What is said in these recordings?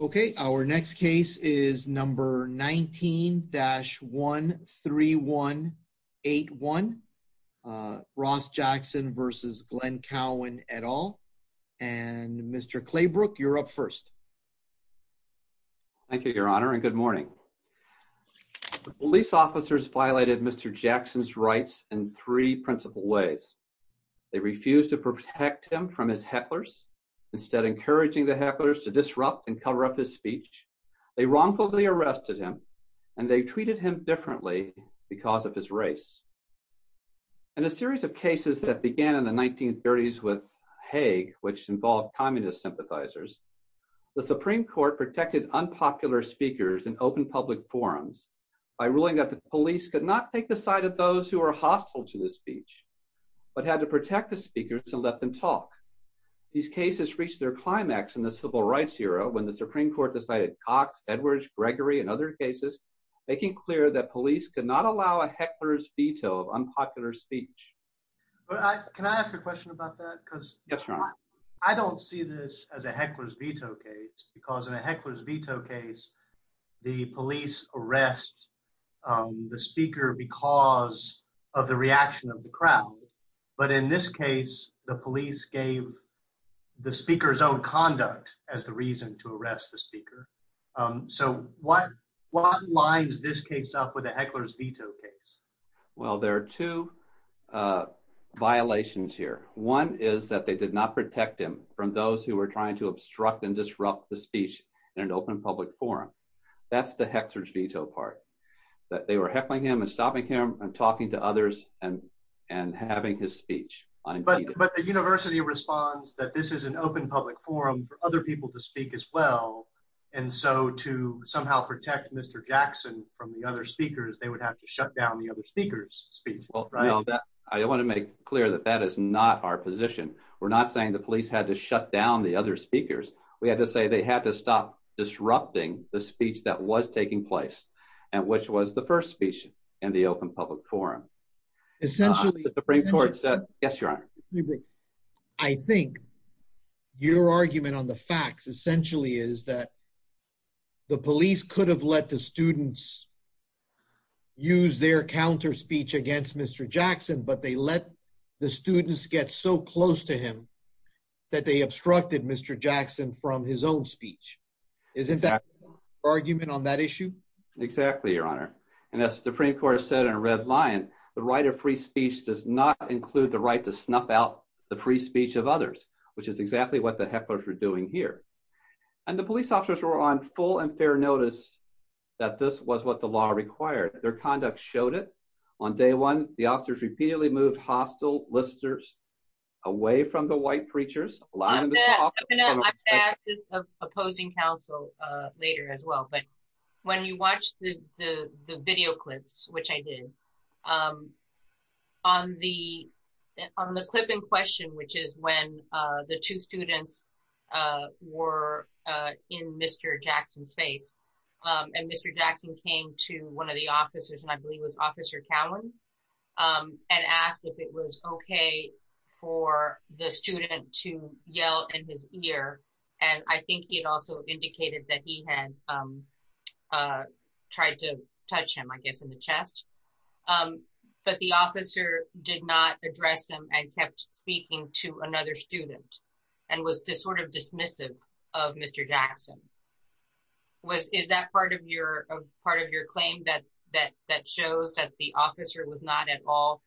okay our next case is number 19-13181 Ross Jackson versus Glenn Cowan et al and Mr. Claybrook you're up first thank you your honor and good morning police officers violated mr. Jackson's rights in three principal ways they refused to protect him from his hecklers instead encouraging the hecklers to disrupt and cover up his speech they wrongfully arrested him and they treated him differently because of his race and a series of cases that began in the 1930s with Hague which involved communist sympathizers the Supreme Court protected unpopular speakers and open public forums by ruling that the police could not take the side of those who are hostile to the speech but had to protect the speakers and let them talk these cases reached their climax in the Civil Rights era when the Supreme Court decided Cox Edwards Gregory and other cases making clear that police could not allow a heckler's veto of unpopular speech I don't see this as a heckler's veto case because in a heckler's veto case the police arrest the speaker because of the reaction of the crowd but in this case the police gave the speaker's own conduct as the reason to arrest the speaker so what what lines this case up with a heckler's veto case well there are two violations here one is that they did not protect him from those who were trying to obstruct and disrupt the speech in an open public forum that's the hecklers veto part that they were heckling him and stopping him from talking to others and and having his speech but but the University responds that this is an open public forum for other people to speak as well and so to somehow protect mr. Jackson from the other speakers they would have to shut down the other speakers speech well right all that I want to make clear that that is not our position we're not saying the police had to shut down the other speakers we had to say they had to stop disrupting the speech that was taking place and which was the first speech in the open public forum essentially the Supreme Court said yes your honor I think your argument on the facts essentially is that the police could have let the students use their counter speech against mr. Jackson but they let the students get so close to him that they obstructed mr. Jackson from his own speech is in fact argument on that issue exactly your honor and that's the Supreme Court said in a red lion the right of free speech does not include the right to snuff out the free speech of others which is exactly what the hecklers were doing here and the police officers were on full and fair notice that this was what the law required their conduct showed it on day one the officers repeatedly moved hostile listeners away from the white preachers opposing counsel later as well but when you watch the video clips which I did on the on the clip in question which is when the two students were in mr. Jackson's face and mr. Jackson came to one of the officers and I believe was officer Cowan and asked if it was okay for the student to yell in his ear and I think he had also indicated that he had tried to touch him I guess in the chest but the officer did not address him and kept speaking to another student and was just sort of dismissive of mr. Jackson was is that part of your part of your claim that that shows that the officer was not at all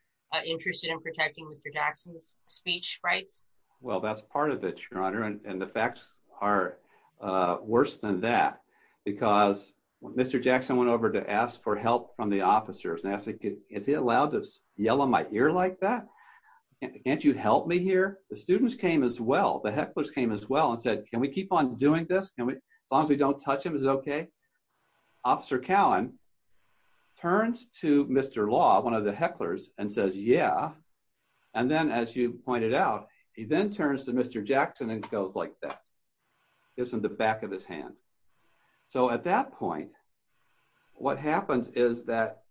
interested in protecting mr. Jackson's speech rights well that's part of it your honor and the facts are worse than that because mr. Jackson went over to ask for help from the officers and I think it is he allowed to yell on my ear like that can't you help me here the students came as well the hecklers came as well and said can we keep on doing this can we as long as we don't touch him is okay officer Cowan turns to mr. law one of the hecklers and says yeah and then as you pointed out he then turns to mr. Jackson and goes like that gives him the back of his hand so at that point what happens is that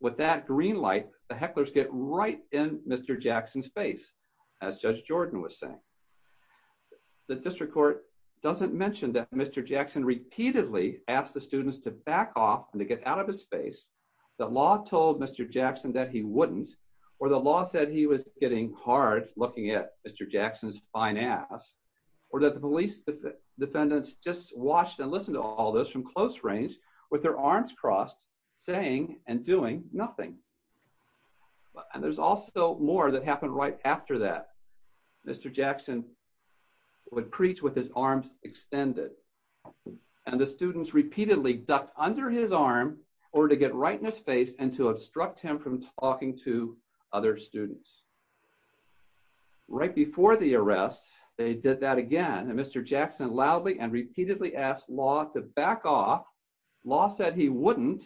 with that green light the hecklers get right in mr. Jackson's face as judge Jordan was saying the district court doesn't mention that mr. Jackson repeatedly asked the students to back off and to get out of his space the law told mr. Jackson that he wouldn't or the law said he was getting hard looking at mr. Jackson's fine ass or that the police defendants just watched and listened to all those from close range with their arms crossed saying and doing nothing and there's also more that happened right after that mr. Jackson would preach with his arms extended and the students repeatedly ducked under his arm or to get right in his face and to obstruct him from talking to other students right before the arrests they did that again and mr. Jackson loudly and repeatedly asked law to back off law said he wouldn't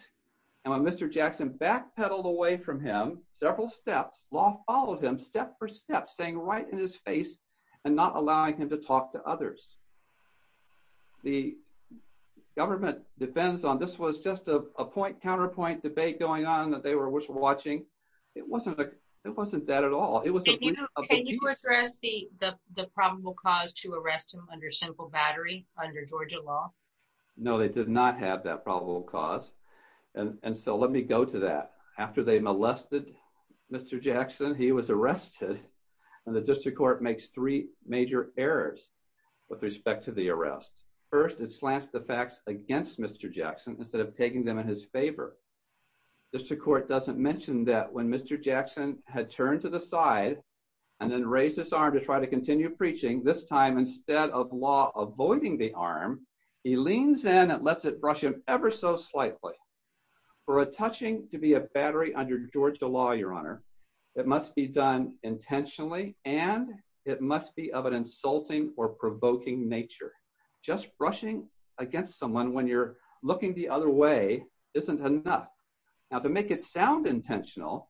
and when mr. Jackson backpedaled away from him several steps all of him step for step saying right in his face and not allowing him to talk to others the government defends on this was just a point counterpoint debate going on that they were watching it wasn't like it wasn't that at all it was the the probable cause to arrest him under simple battery under Georgia law no they did not have that probable cause and and so let me go to that after they he was arrested and the district court makes three major errors with respect to the arrest first it slants the facts against mr. Jackson instead of taking them in his favor district court doesn't mention that when mr. Jackson had turned to the side and then raised his arm to try to continue preaching this time instead of law avoiding the arm he leans in and lets it brush him ever so slightly for a touching to be a battery under Georgia law your honor it must be done intentionally and it must be of an insulting or provoking nature just brushing against someone when you're looking the other way isn't enough now to make it sound intentional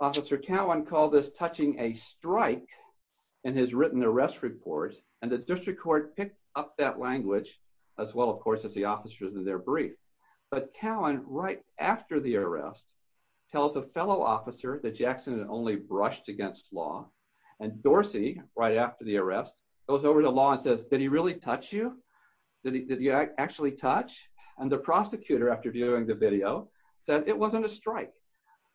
officer Cowan called this touching a strike and has written the rest report and the district court picked up that language as well of course as the officers in their brief but Cowan right after the arrest tells a fellow officer that Jackson had only brushed against law and Dorsey right after the arrest goes over the law and says did he really touch you did he actually touch and the prosecutor after viewing the video said it wasn't a strike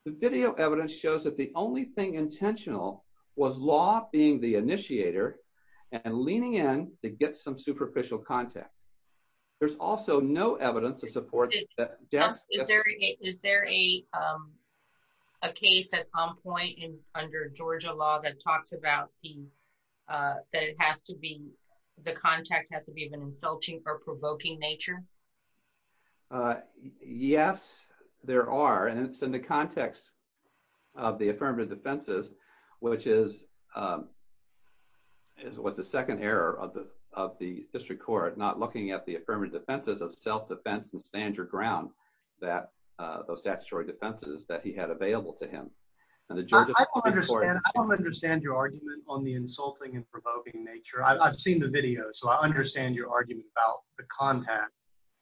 the video evidence shows that the only thing intentional was law being the there's also no evidence to support is there a case at some point in under Georgia law that talks about the that it has to be the contact has to be of an insulting or provoking nature yes there are and it's in the context of the affirmative defenses which is is what's the second error of the of the district court not looking at the affirmative defenses of self-defense and stand your ground that those statutory defenses that he had available to him and the Georgia understand I don't understand your argument on the insulting and provoking nature I've seen the video so I understand your argument about the contact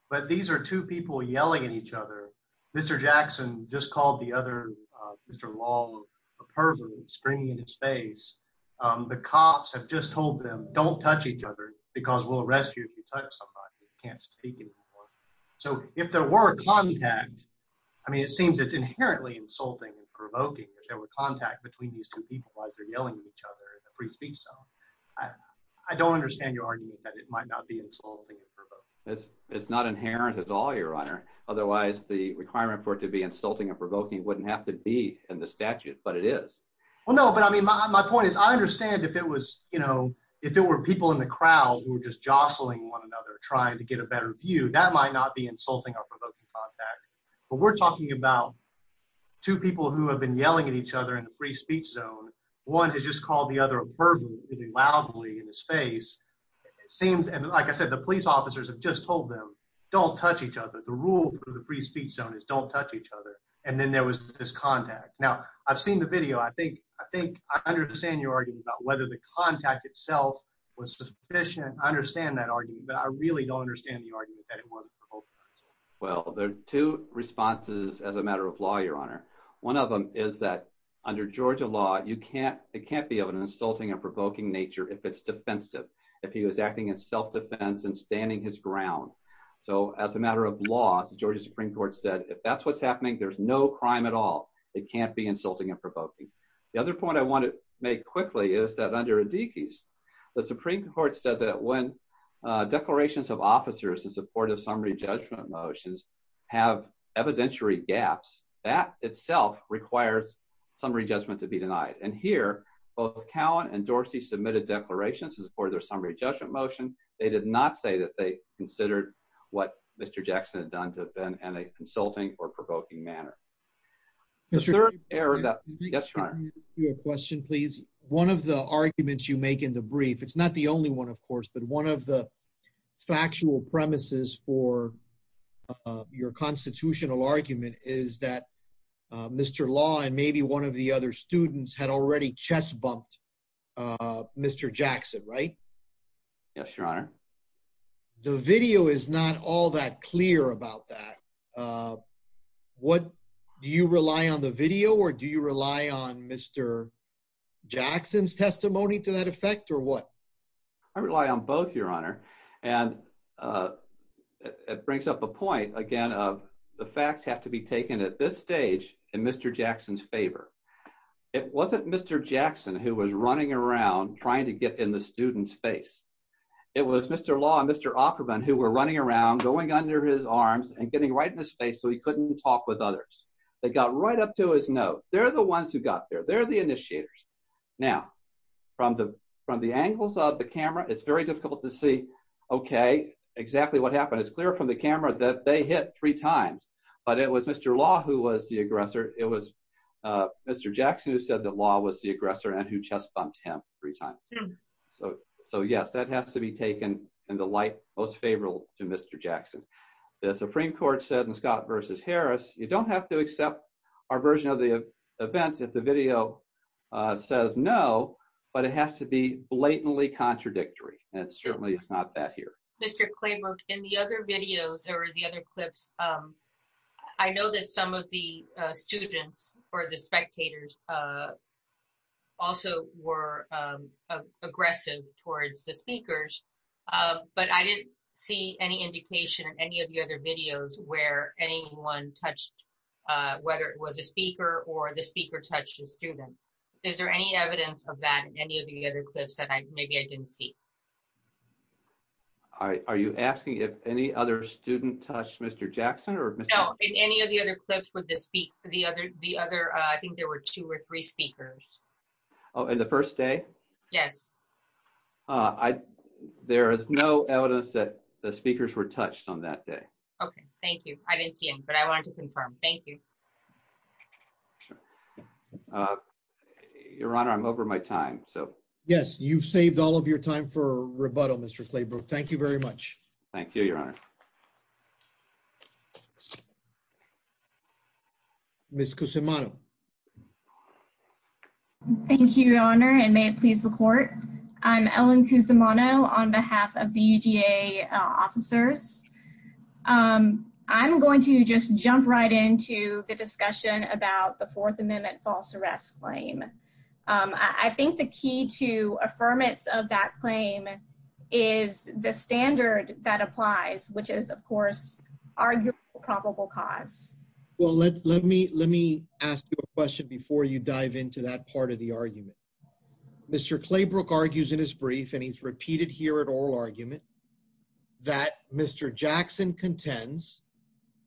but these are two people yelling at each other mr. Jackson just called the other mr. wall a person screaming in his face the cops have just told them don't touch each other because we'll arrest you can't speak anymore so if there were contact I mean it seems it's inherently insulting and provoking if there were contact between these two people as they're yelling at each other in the free speech zone I don't understand your argument that it might not be it's not inherent at all your honor otherwise the requirement for it to be insulting and provoking wouldn't have to be in the statute but it is well no but I mean my point is I understand if it was you know if there were people in the crowd who were just jostling one another trying to get a better view that might not be insulting or provoking contact but we're talking about two people who have been yelling at each other in the free speech zone one has just called the other verbally loudly in his face it seems and like I said the police officers have just told them don't touch each other the rule for the free speech zone is don't touch each other and then there was this contact now I've seen the your argument about whether the contact itself was sufficient I understand that argument but I really don't understand the argument well there are two responses as a matter of law your honor one of them is that under Georgia law you can't it can't be of an insulting and provoking nature if it's defensive if he was acting in self-defense and standing his ground so as a matter of laws the Georgia Supreme Court said if that's what's happening there's no crime at all it can't be insulting and provoking the other point I want to make quickly is that under a deke's the Supreme Court said that when declarations of officers in support of summary judgment motions have evidentiary gaps that itself requires summary judgment to be denied and here both Cowan and Dorsey submitted declarations as for their summary judgment motion they did not say that they considered what mr. Jackson had been in a insulting or provoking manner mr. error that yes your question please one of the arguments you make in the brief it's not the only one of course but one of the factual premises for your constitutional argument is that mr. law and maybe one of the other students had already chest bumped mr. Jackson right yes your honor the video is not all that clear about that what do you rely on the video or do you rely on mr. Jackson's testimony to that effect or what I rely on both your honor and it brings up a point again of the facts have to be taken at this stage in mr. Jackson's favor it wasn't mr. Jackson who was running around trying to get in the students face it was mr. law and mr. Offerman who were running around going under his arms and getting right in his face so he couldn't talk with others they got right up to his no they're the ones who got there they're the initiators now from the from the angles of the camera it's very difficult to see okay exactly what happened it's clear from the camera that they hit three times but it was mr. law who was the aggressor and who chest-bumped him three times so so yes that has to be taken and the light most favorable to mr. Jackson the Supreme Court said in Scott versus Harris you don't have to accept our version of the events if the video says no but it has to be blatantly contradictory and certainly it's not that here mr. Claybrook in the other videos or the other clips I know that some of the students or the spectators also were aggressive towards the speakers but I didn't see any indication in any of the other videos where anyone touched whether it was a speaker or the speaker touched a student is there any evidence of that any of the other clips that I maybe I didn't see all right are you asking if any other student touched mr. Jackson or no in any of the other clips would this speak for the other the other I think there were two or three speakers oh and the first day yes I there is no evidence that the speakers were touched on that day okay thank you I didn't see him but I wanted to confirm thank you your honor I'm over my time so yes you've saved all of your time for miss Kusumoto thank you your honor and may it please the court I'm Ellen Kusumoto on behalf of the UGA officers I'm going to just jump right into the discussion about the Fourth Amendment false arrest claim I think the key to affirmance of that claim is the standard that applies which is of course are probable cause well let's let me let me ask you a question before you dive into that part of the argument mr. Claybrook argues in his brief and he's repeated here at oral argument that mr. Jackson contends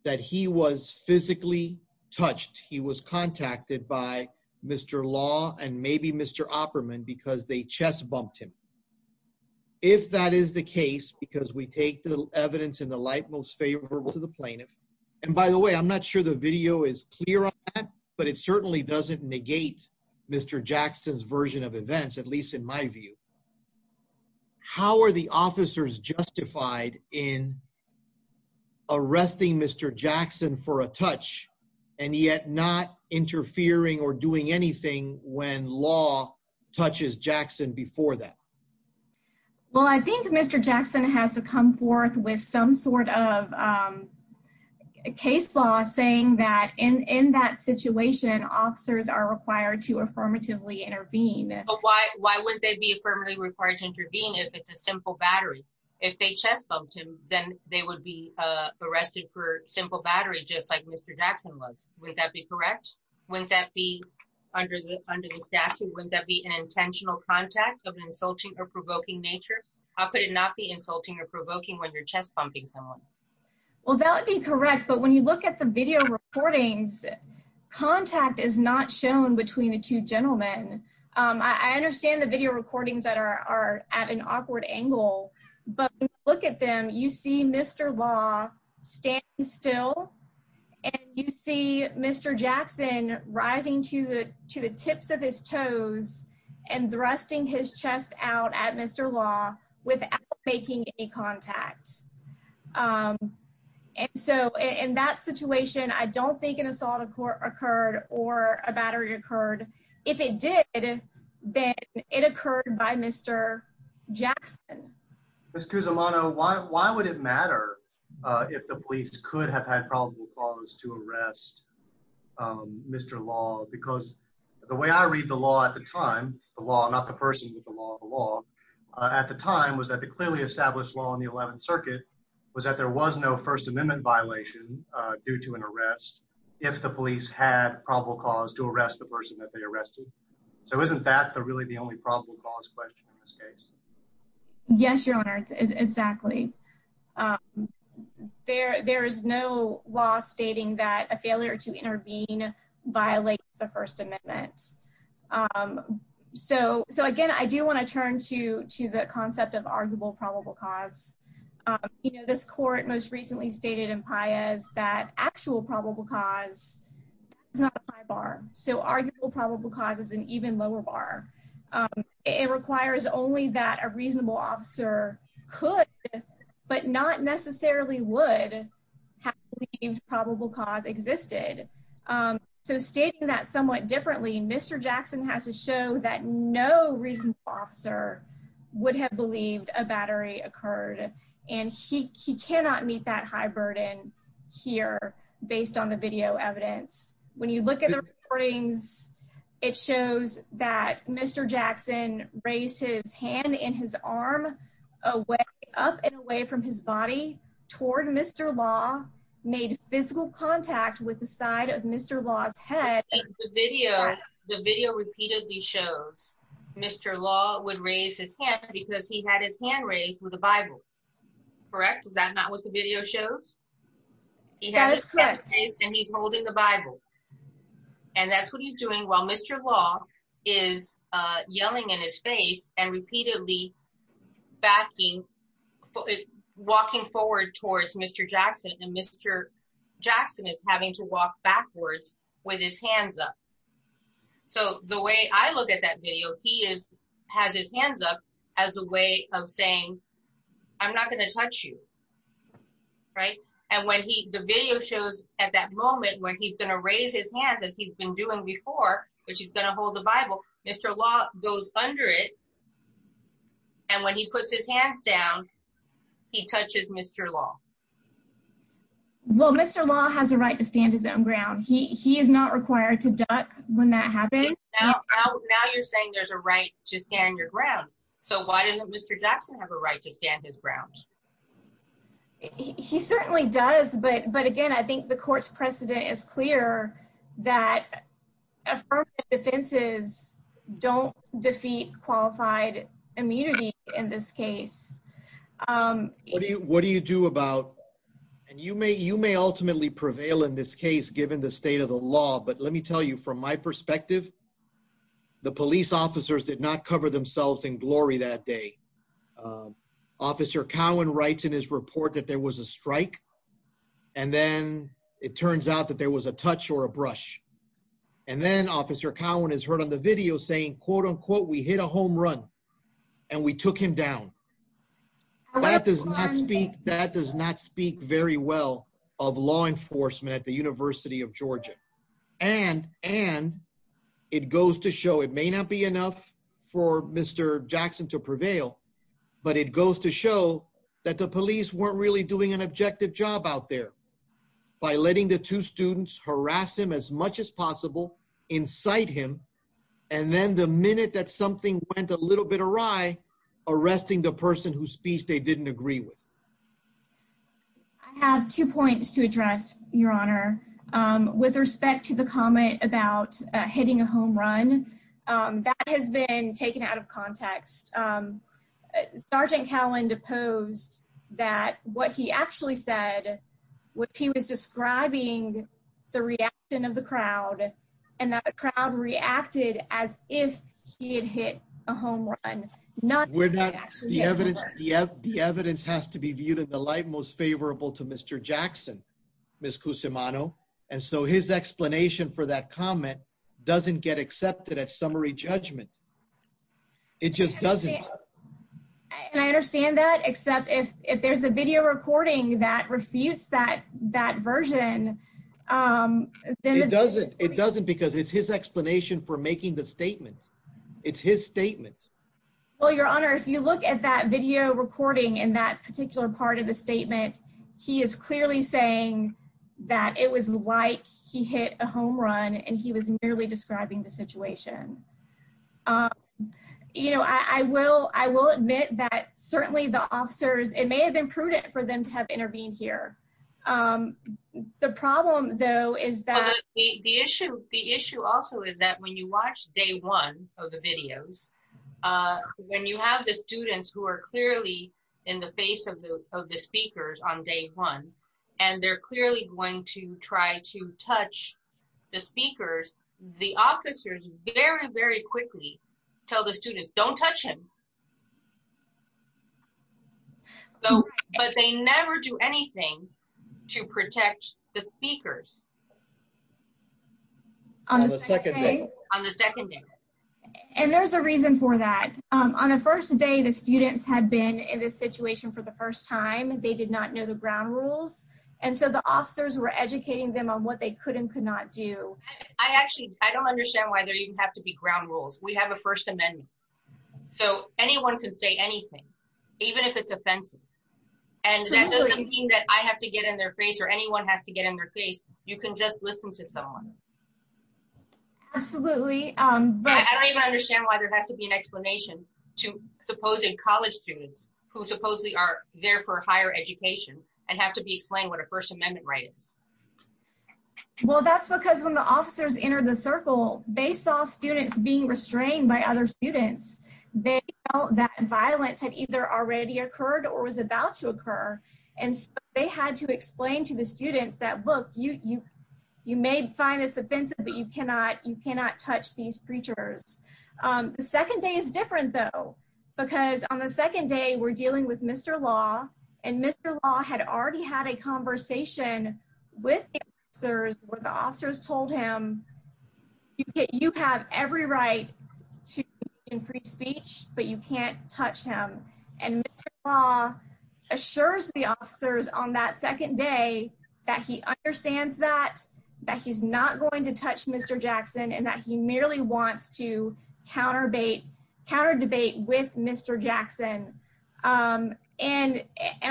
that he was physically touched he was contacted by mr. law and maybe mr. Opperman because they chest bumped him if that is the case because we take the evidence in the light most favorable to the plaintiff and by the way I'm not sure the video is clear on that but it certainly doesn't negate mr. Jackson's version of events at least in my view how are the officers justified in arresting mr. Jackson for a touch and yet not interfering or doing anything when law touches Jackson before that well I think mr. Jackson has to come forth with some sort of a case law saying that in in that situation officers are required to affirmatively intervene why why would they be firmly required to intervene if it's a simple battery if they chest bumped him then they would be arrested for simple battery just like mr. Jackson was would that be correct would that be under the under the statute would that be an intentional contact of an insulting or provoking nature how could it not be insulting or provoking when your chest bumping someone well that would be correct but when you look at the video recordings contact is not shown between the two gentlemen I understand the video recordings that are at an awkward angle but look at them you see mr. law stand still and you see mr. Jackson rising to to the tips of his toes and thrusting his chest out at mr. law without making any contact and so in that situation I don't think an assault of court occurred or a battery occurred if it did then it occurred by mr. Jackson excuse Amano why why would it matter if the police could have had problems to arrest mr. law because the way I read the law at the time the law not the person with the law at the time was that the clearly established law in the 11th Circuit was that there was no First Amendment violation due to an arrest if the police had probable cause to arrest the person that they arrested so isn't that the really the only probable cause question in this case yes your honor exactly there there is no law stating that a failure to intervene violate the First Amendment so so again I do want to turn to to the concept of arguable probable cause you know this court most recently stated in Pius that actual probable cause bar so arguable probable cause is an even lower bar it requires only that a reasonable officer could but not necessarily would have probable cause existed so stating that somewhat differently mr. Jackson has to show that no reason officer would have believed a battery occurred and he cannot meet that high burden here based on the video evidence when you look at the recordings it shows that mr. Jackson raised his hand in his arm away up and away from his body toward mr. law made physical contact with the side of mr. laws head the video the video repeatedly shows mr. law would raise his hand because he had his hand raised with a Bible correct is that not what the video shows he has doing well mr. law is yelling in his face and repeatedly backing walking forward towards mr. Jackson and mr. Jackson is having to walk backwards with his hands up so the way I look at that video he is has his hands up as a way of saying I'm not going to touch you right and when he the video shows at that which is going to hold the Bible mr. law goes under it and when he puts his hands down he touches mr. law well mr. law has a right to stand his own ground he is not required to duck when that happens now you're saying there's a right to stand your ground so why doesn't mr. Jackson have a right to stand his ground he certainly does but but again I think the court's precedent is clear that defenses don't defeat qualified immunity in this case what do you do about and you may you may ultimately prevail in this case given the state of the law but let me tell you from my perspective the police officers did not cover themselves in glory that day officer Cowan writes in his report that there was a strike and then it turns out that there was a touch or a brush and then officer Cowan is heard on the video saying quote-unquote we hit a home run and we took him down that does not speak that does not speak very well of law enforcement at the University of Georgia and and it goes to show it may not be enough for mr. Jackson to prevail but it goes to show that the police weren't really doing an objective job out there by letting the two students harass him as much as possible incite him and then the minute that something went a little bit awry arresting the person who speaks they didn't agree with I have two points to address your honor with respect to the comment about hitting a home run that has been taken out of context sergeant Cowan deposed that what he actually said what he was describing the reaction of the crowd and that the crowd reacted as if he had hit a home run not we're not the evidence the evidence has to be viewed in the light most favorable to mr. Jackson miss kusumano and so his explanation for that comment doesn't get accepted at summary judgment it just doesn't and I understand that except if if there's a video recording that refutes that that version it doesn't it doesn't because it's his explanation for making the statement it's his statement well your honor if you look at that video recording in that particular part of the statement he is clearly saying that it was like he hit a home run and he was merely describing the situation you know I will I will admit that certainly the officers it may have been prudent for them to have intervened here the problem though is that the issue the issue also is that when you watch day one of the videos when you have the students who are clearly in the face of the of the speakers on day one and they're clearly going to try to touch the speakers the officers very very quickly tell the students don't touch him though but they never do anything to protect the speakers and there's a reason for that on the first day the students had been in this situation for the first time they did not know the ground rules and so the officers were educating them on what they could and could not do I actually I don't understand why there even have to be ground rules we have a First Amendment so anyone can say anything even if it's offensive and that doesn't mean that I have to get in their face or anyone has to get in their face you can just listen to someone absolutely I don't even understand why there has to be an explanation to supposing college students who supposedly are there for higher education and have to be explained what their First Amendment rights well that's because when the officers entered the circle they saw students being restrained by other students they felt that violence had either already occurred or was about to occur and they had to explain to the students that look you you may find this offensive but you cannot you cannot touch these preachers the second day is different though because on the second day we're dealing with mr. law and mr. law had already had a conversation with sirs what the officers told him you get you have every right to in free speech but you can't touch him and law assures the officers on that second day that he understands that that he's not going to touch mr. Jackson and that he merely wants to counter bait counter debate with mr. Jackson and and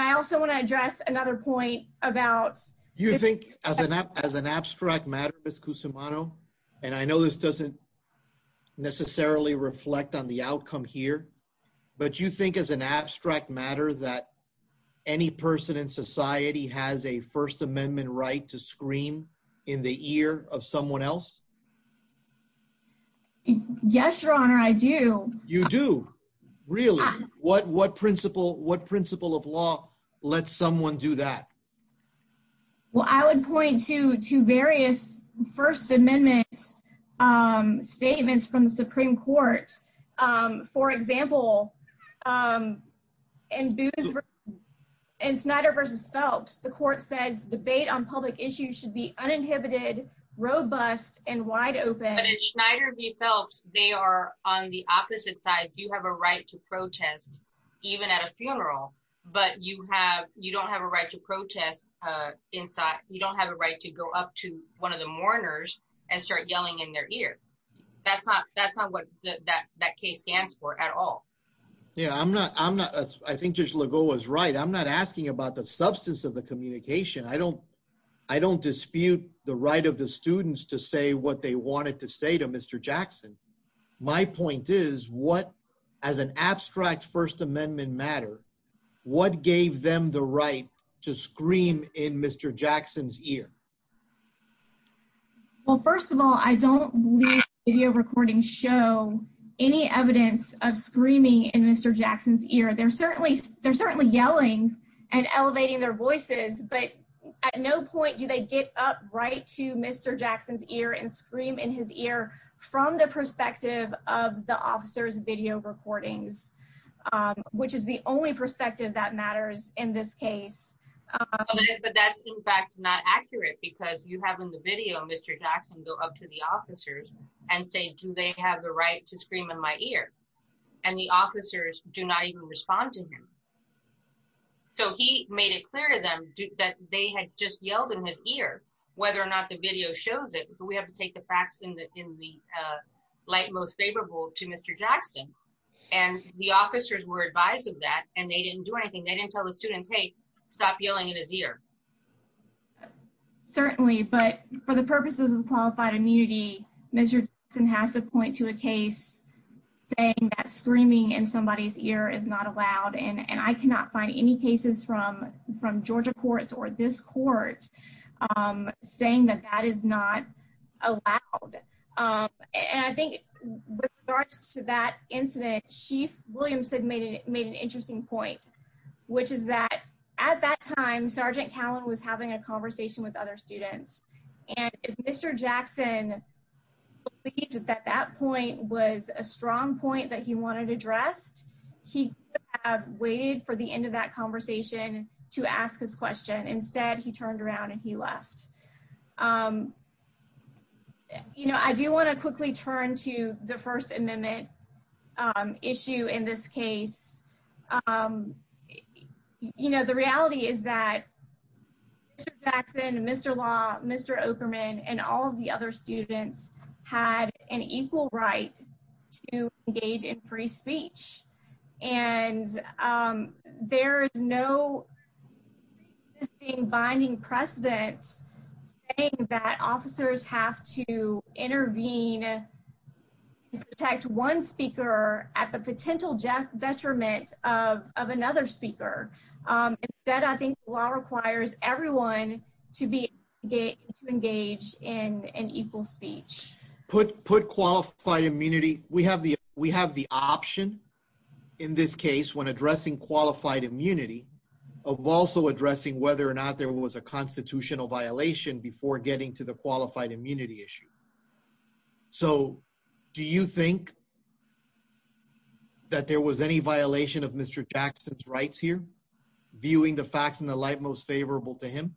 I also want to address another point about you think as an app as an abstract matter as kusumano and I know this doesn't necessarily reflect on the outcome here but you think as an abstract matter that any person in society has a First Amendment right to scream in the ear of someone else yes your honor I do you do really what what principle what principle of law let someone do that well I would point to to various First Amendment statements from the Supreme Court for example and booze and Snyder versus Phelps the court says debate on public issues should be uninhibited robust and wide open it's Schneider V Phelps they are on the opposite side you have a right to protest even at a funeral but you have you don't have a right to protest inside you don't have a right to go up to one of the mourners and start yelling in their ear that's not that's not what that that case stands for at all yeah I'm not I'm not I think just Legault was right I'm not asking about the substance of the communication I don't I don't dispute the right of the students to say what they wanted to say to mr. Jackson my point is what as an abstract First Amendment matter what gave them the right to scream in mr. Jackson's ear well first of all I don't video recordings show any evidence of screaming in mr. Jackson's ear they're certainly they're certainly yelling and elevating their voices but at no point do they get up right to mr. Jackson's ear and scream in his ear from the perspective of the officers video recordings which is the only perspective that matters in this case but that's in fact not accurate because you have in the video mr. Jackson go up to the officers and say do they have the right to scream in my ear and the officers do not even respond to him so he made it yelled in his ear whether or not the video shows it we have to take the facts in that in the light most favorable to mr. Jackson and the officers were advised of that and they didn't do anything they didn't tell the students hey stop yelling in his ear certainly but for the purposes of qualified immunity mr. and has to point to a case saying that screaming in somebody's ear is not allowed and and I cannot find any cases from from Georgia courts or this court saying that that is not allowed and I think to that incident chief Williamson made it made an interesting point which is that at that time sergeant Callan was having a conversation with other students and if mr. Jackson that that point was a strong point that he wanted addressed he have for the end of that conversation to ask his question instead he turned around and he left you know I do want to quickly turn to the First Amendment issue in this case you know the reality is that Jackson mr. law mr. operman and equal right to engage in free speech and there is no binding precedence that officers have to intervene protect one speaker at the potential Jeff detriment of another speaker that I think law requires everyone to be engaged in an speech put put qualified immunity we have the we have the option in this case when addressing qualified immunity of also addressing whether or not there was a constitutional violation before getting to the qualified immunity issue so do you think that there was any violation of mr. Jackson's rights here viewing the facts in the light most favorable to him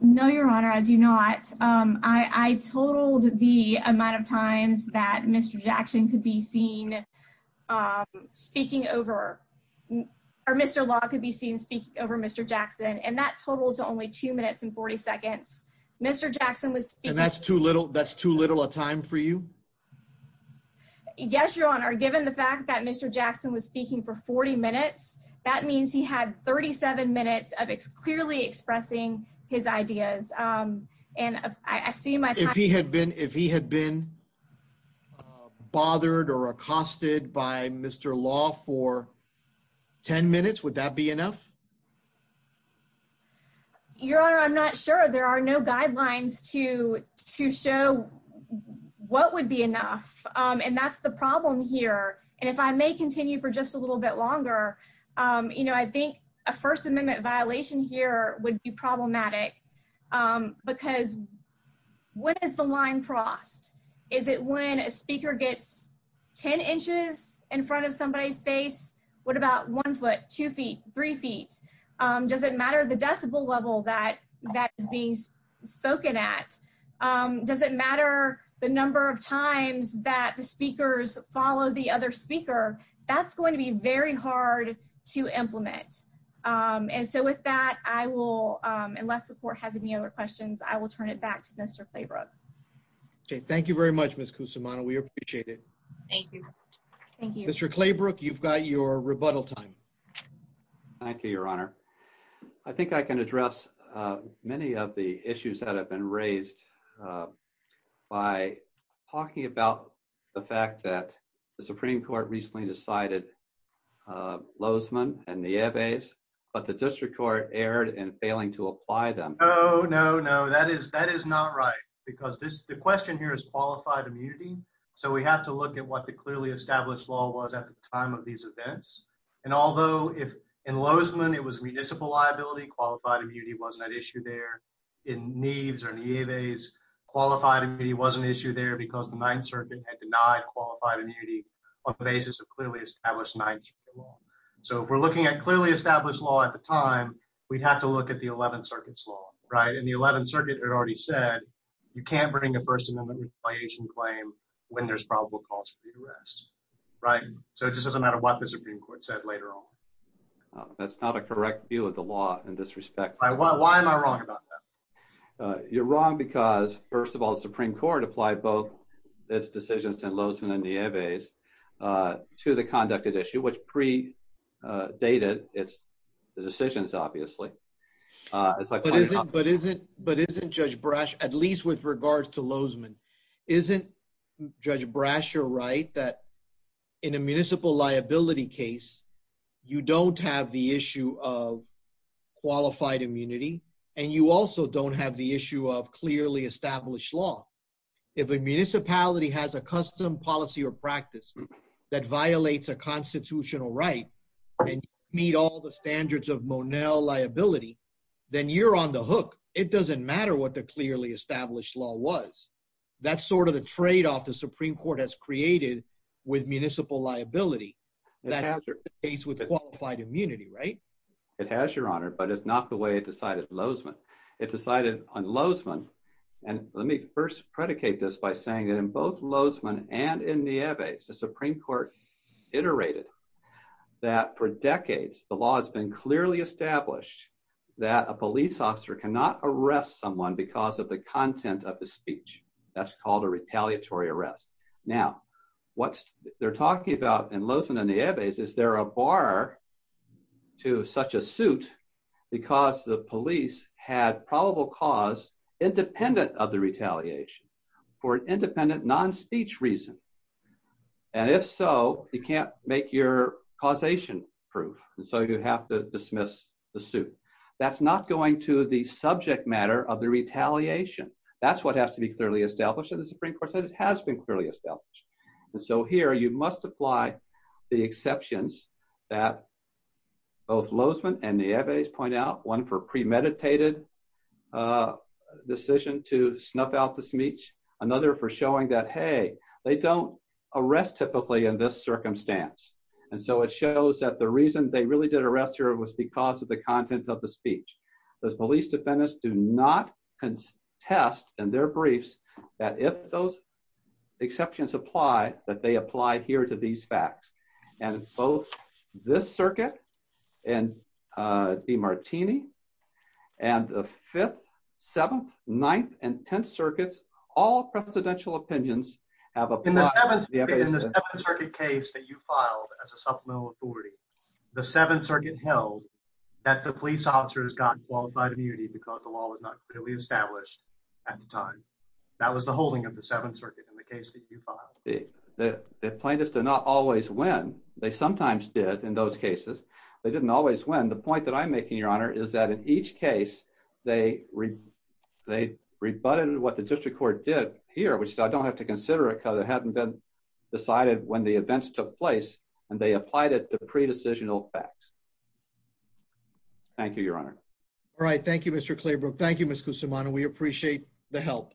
no your honor I do not I told the amount of times that mr. Jackson could be seen speaking over or mr. law could be seen speaking over mr. Jackson and that totaled to only two minutes and 40 seconds mr. Jackson was that's too little that's too little a time for you yes your honor given the fact that mr. Jackson was speaking for 40 minutes that means he had 37 minutes of it's clearly expressing his ideas and I see my if he had been if he had been bothered or accosted by mr. law for 10 minutes would that be enough your honor I'm not sure there are no guidelines to to show what would be enough and that's the problem here and if I may continue for just a little bit longer you know I think a First Amendment violation here would be problematic because what is the line crossed is it when a speaker gets 10 inches in front of somebody's face what about one foot two feet three feet does it matter the decibel level that that is being spoken at does it matter the number of times that the speakers follow the other speaker that's going to be very hard to implement and so with that I will unless the court has any other questions I will turn it back to mr. Claybrook okay thank you very much miss kusumana we appreciate it thank you mr. Claybrook you've got your rebuttal time thank you your honor I think I can address many of the issues that have been raised by talking about the fact that the Supreme Court recently decided Lozman and the ebba's but the district court erred and failing to apply them oh no no that is that is not right because this the question here is qualified immunity so we have to look at what the clearly established law was at the time of these events and although if in Lozman it was municipal liability qualified immunity wasn't an issue there in needs or any of a's qualified and he was an issue there because the Ninth Circuit had denied qualified immunity on clearly established night so if we're looking at clearly established law at the time we'd have to look at the 11th circuit's law right and the 11th circuit had already said you can't bring a first amendment requisition claim when there's probable cause for you to rest right so it just doesn't matter what the Supreme Court said later on that's not a correct view of the law in this respect why am I wrong about that you're wrong because first of all the Supreme Court applied both its decisions and Lozman and the ebba's to the conducted issue which pre-dated it's the decisions obviously but isn't but isn't judge Brash at least with regards to Lozman isn't judge Brasher right that in a municipal liability case you don't have the issue of qualified immunity and you if a municipality has a custom policy or practice that violates a constitutional right and meet all the standards of Monell liability then you're on the hook it doesn't matter what the clearly established law was that's sort of the trade-off the Supreme Court has created with municipal liability that has your face with qualified immunity right it has your honor but it's not the way it this by saying that in both Lozman and in the ebba's the Supreme Court iterated that for decades the law has been clearly established that a police officer cannot arrest someone because of the content of the speech that's called a retaliatory arrest now what they're talking about in Lozman and the ebba's is there a bar to such a suit because the police had probable cause independent of the retaliation for an independent non-speech reason and if so you can't make your causation proof and so you have to dismiss the suit that's not going to the subject matter of the retaliation that's what has to be clearly established in the Supreme Court said it has been clearly established and so here you must apply the exceptions that both Lozman and the ebba's point out one for premeditated decision to snuff out the speech another for showing that hey they don't arrest typically in this circumstance and so it shows that the reason they really did arrest her was because of the content of the speech those police defendants do not contest and their briefs that if those exceptions apply that they apply here to these facts and both this circuit and the Martini and the fifth seventh ninth and tenth circuits all presidential opinions have a case that you filed as a supplemental authority the Seventh Circuit held that the police officer has gotten qualified immunity because the law was not clearly established at the time that was the holding of the Seventh Circuit in the case that you filed the plaintiffs do not always win they didn't always win the point that I'm making your honor is that in each case they read they rebutted what the district court did here which so I don't have to consider it because it hadn't been decided when the events took place and they applied it the pre decisional facts thank you your honor all right Thank You mr. Claybrook Thank You miss Kusum on and we appreciate the help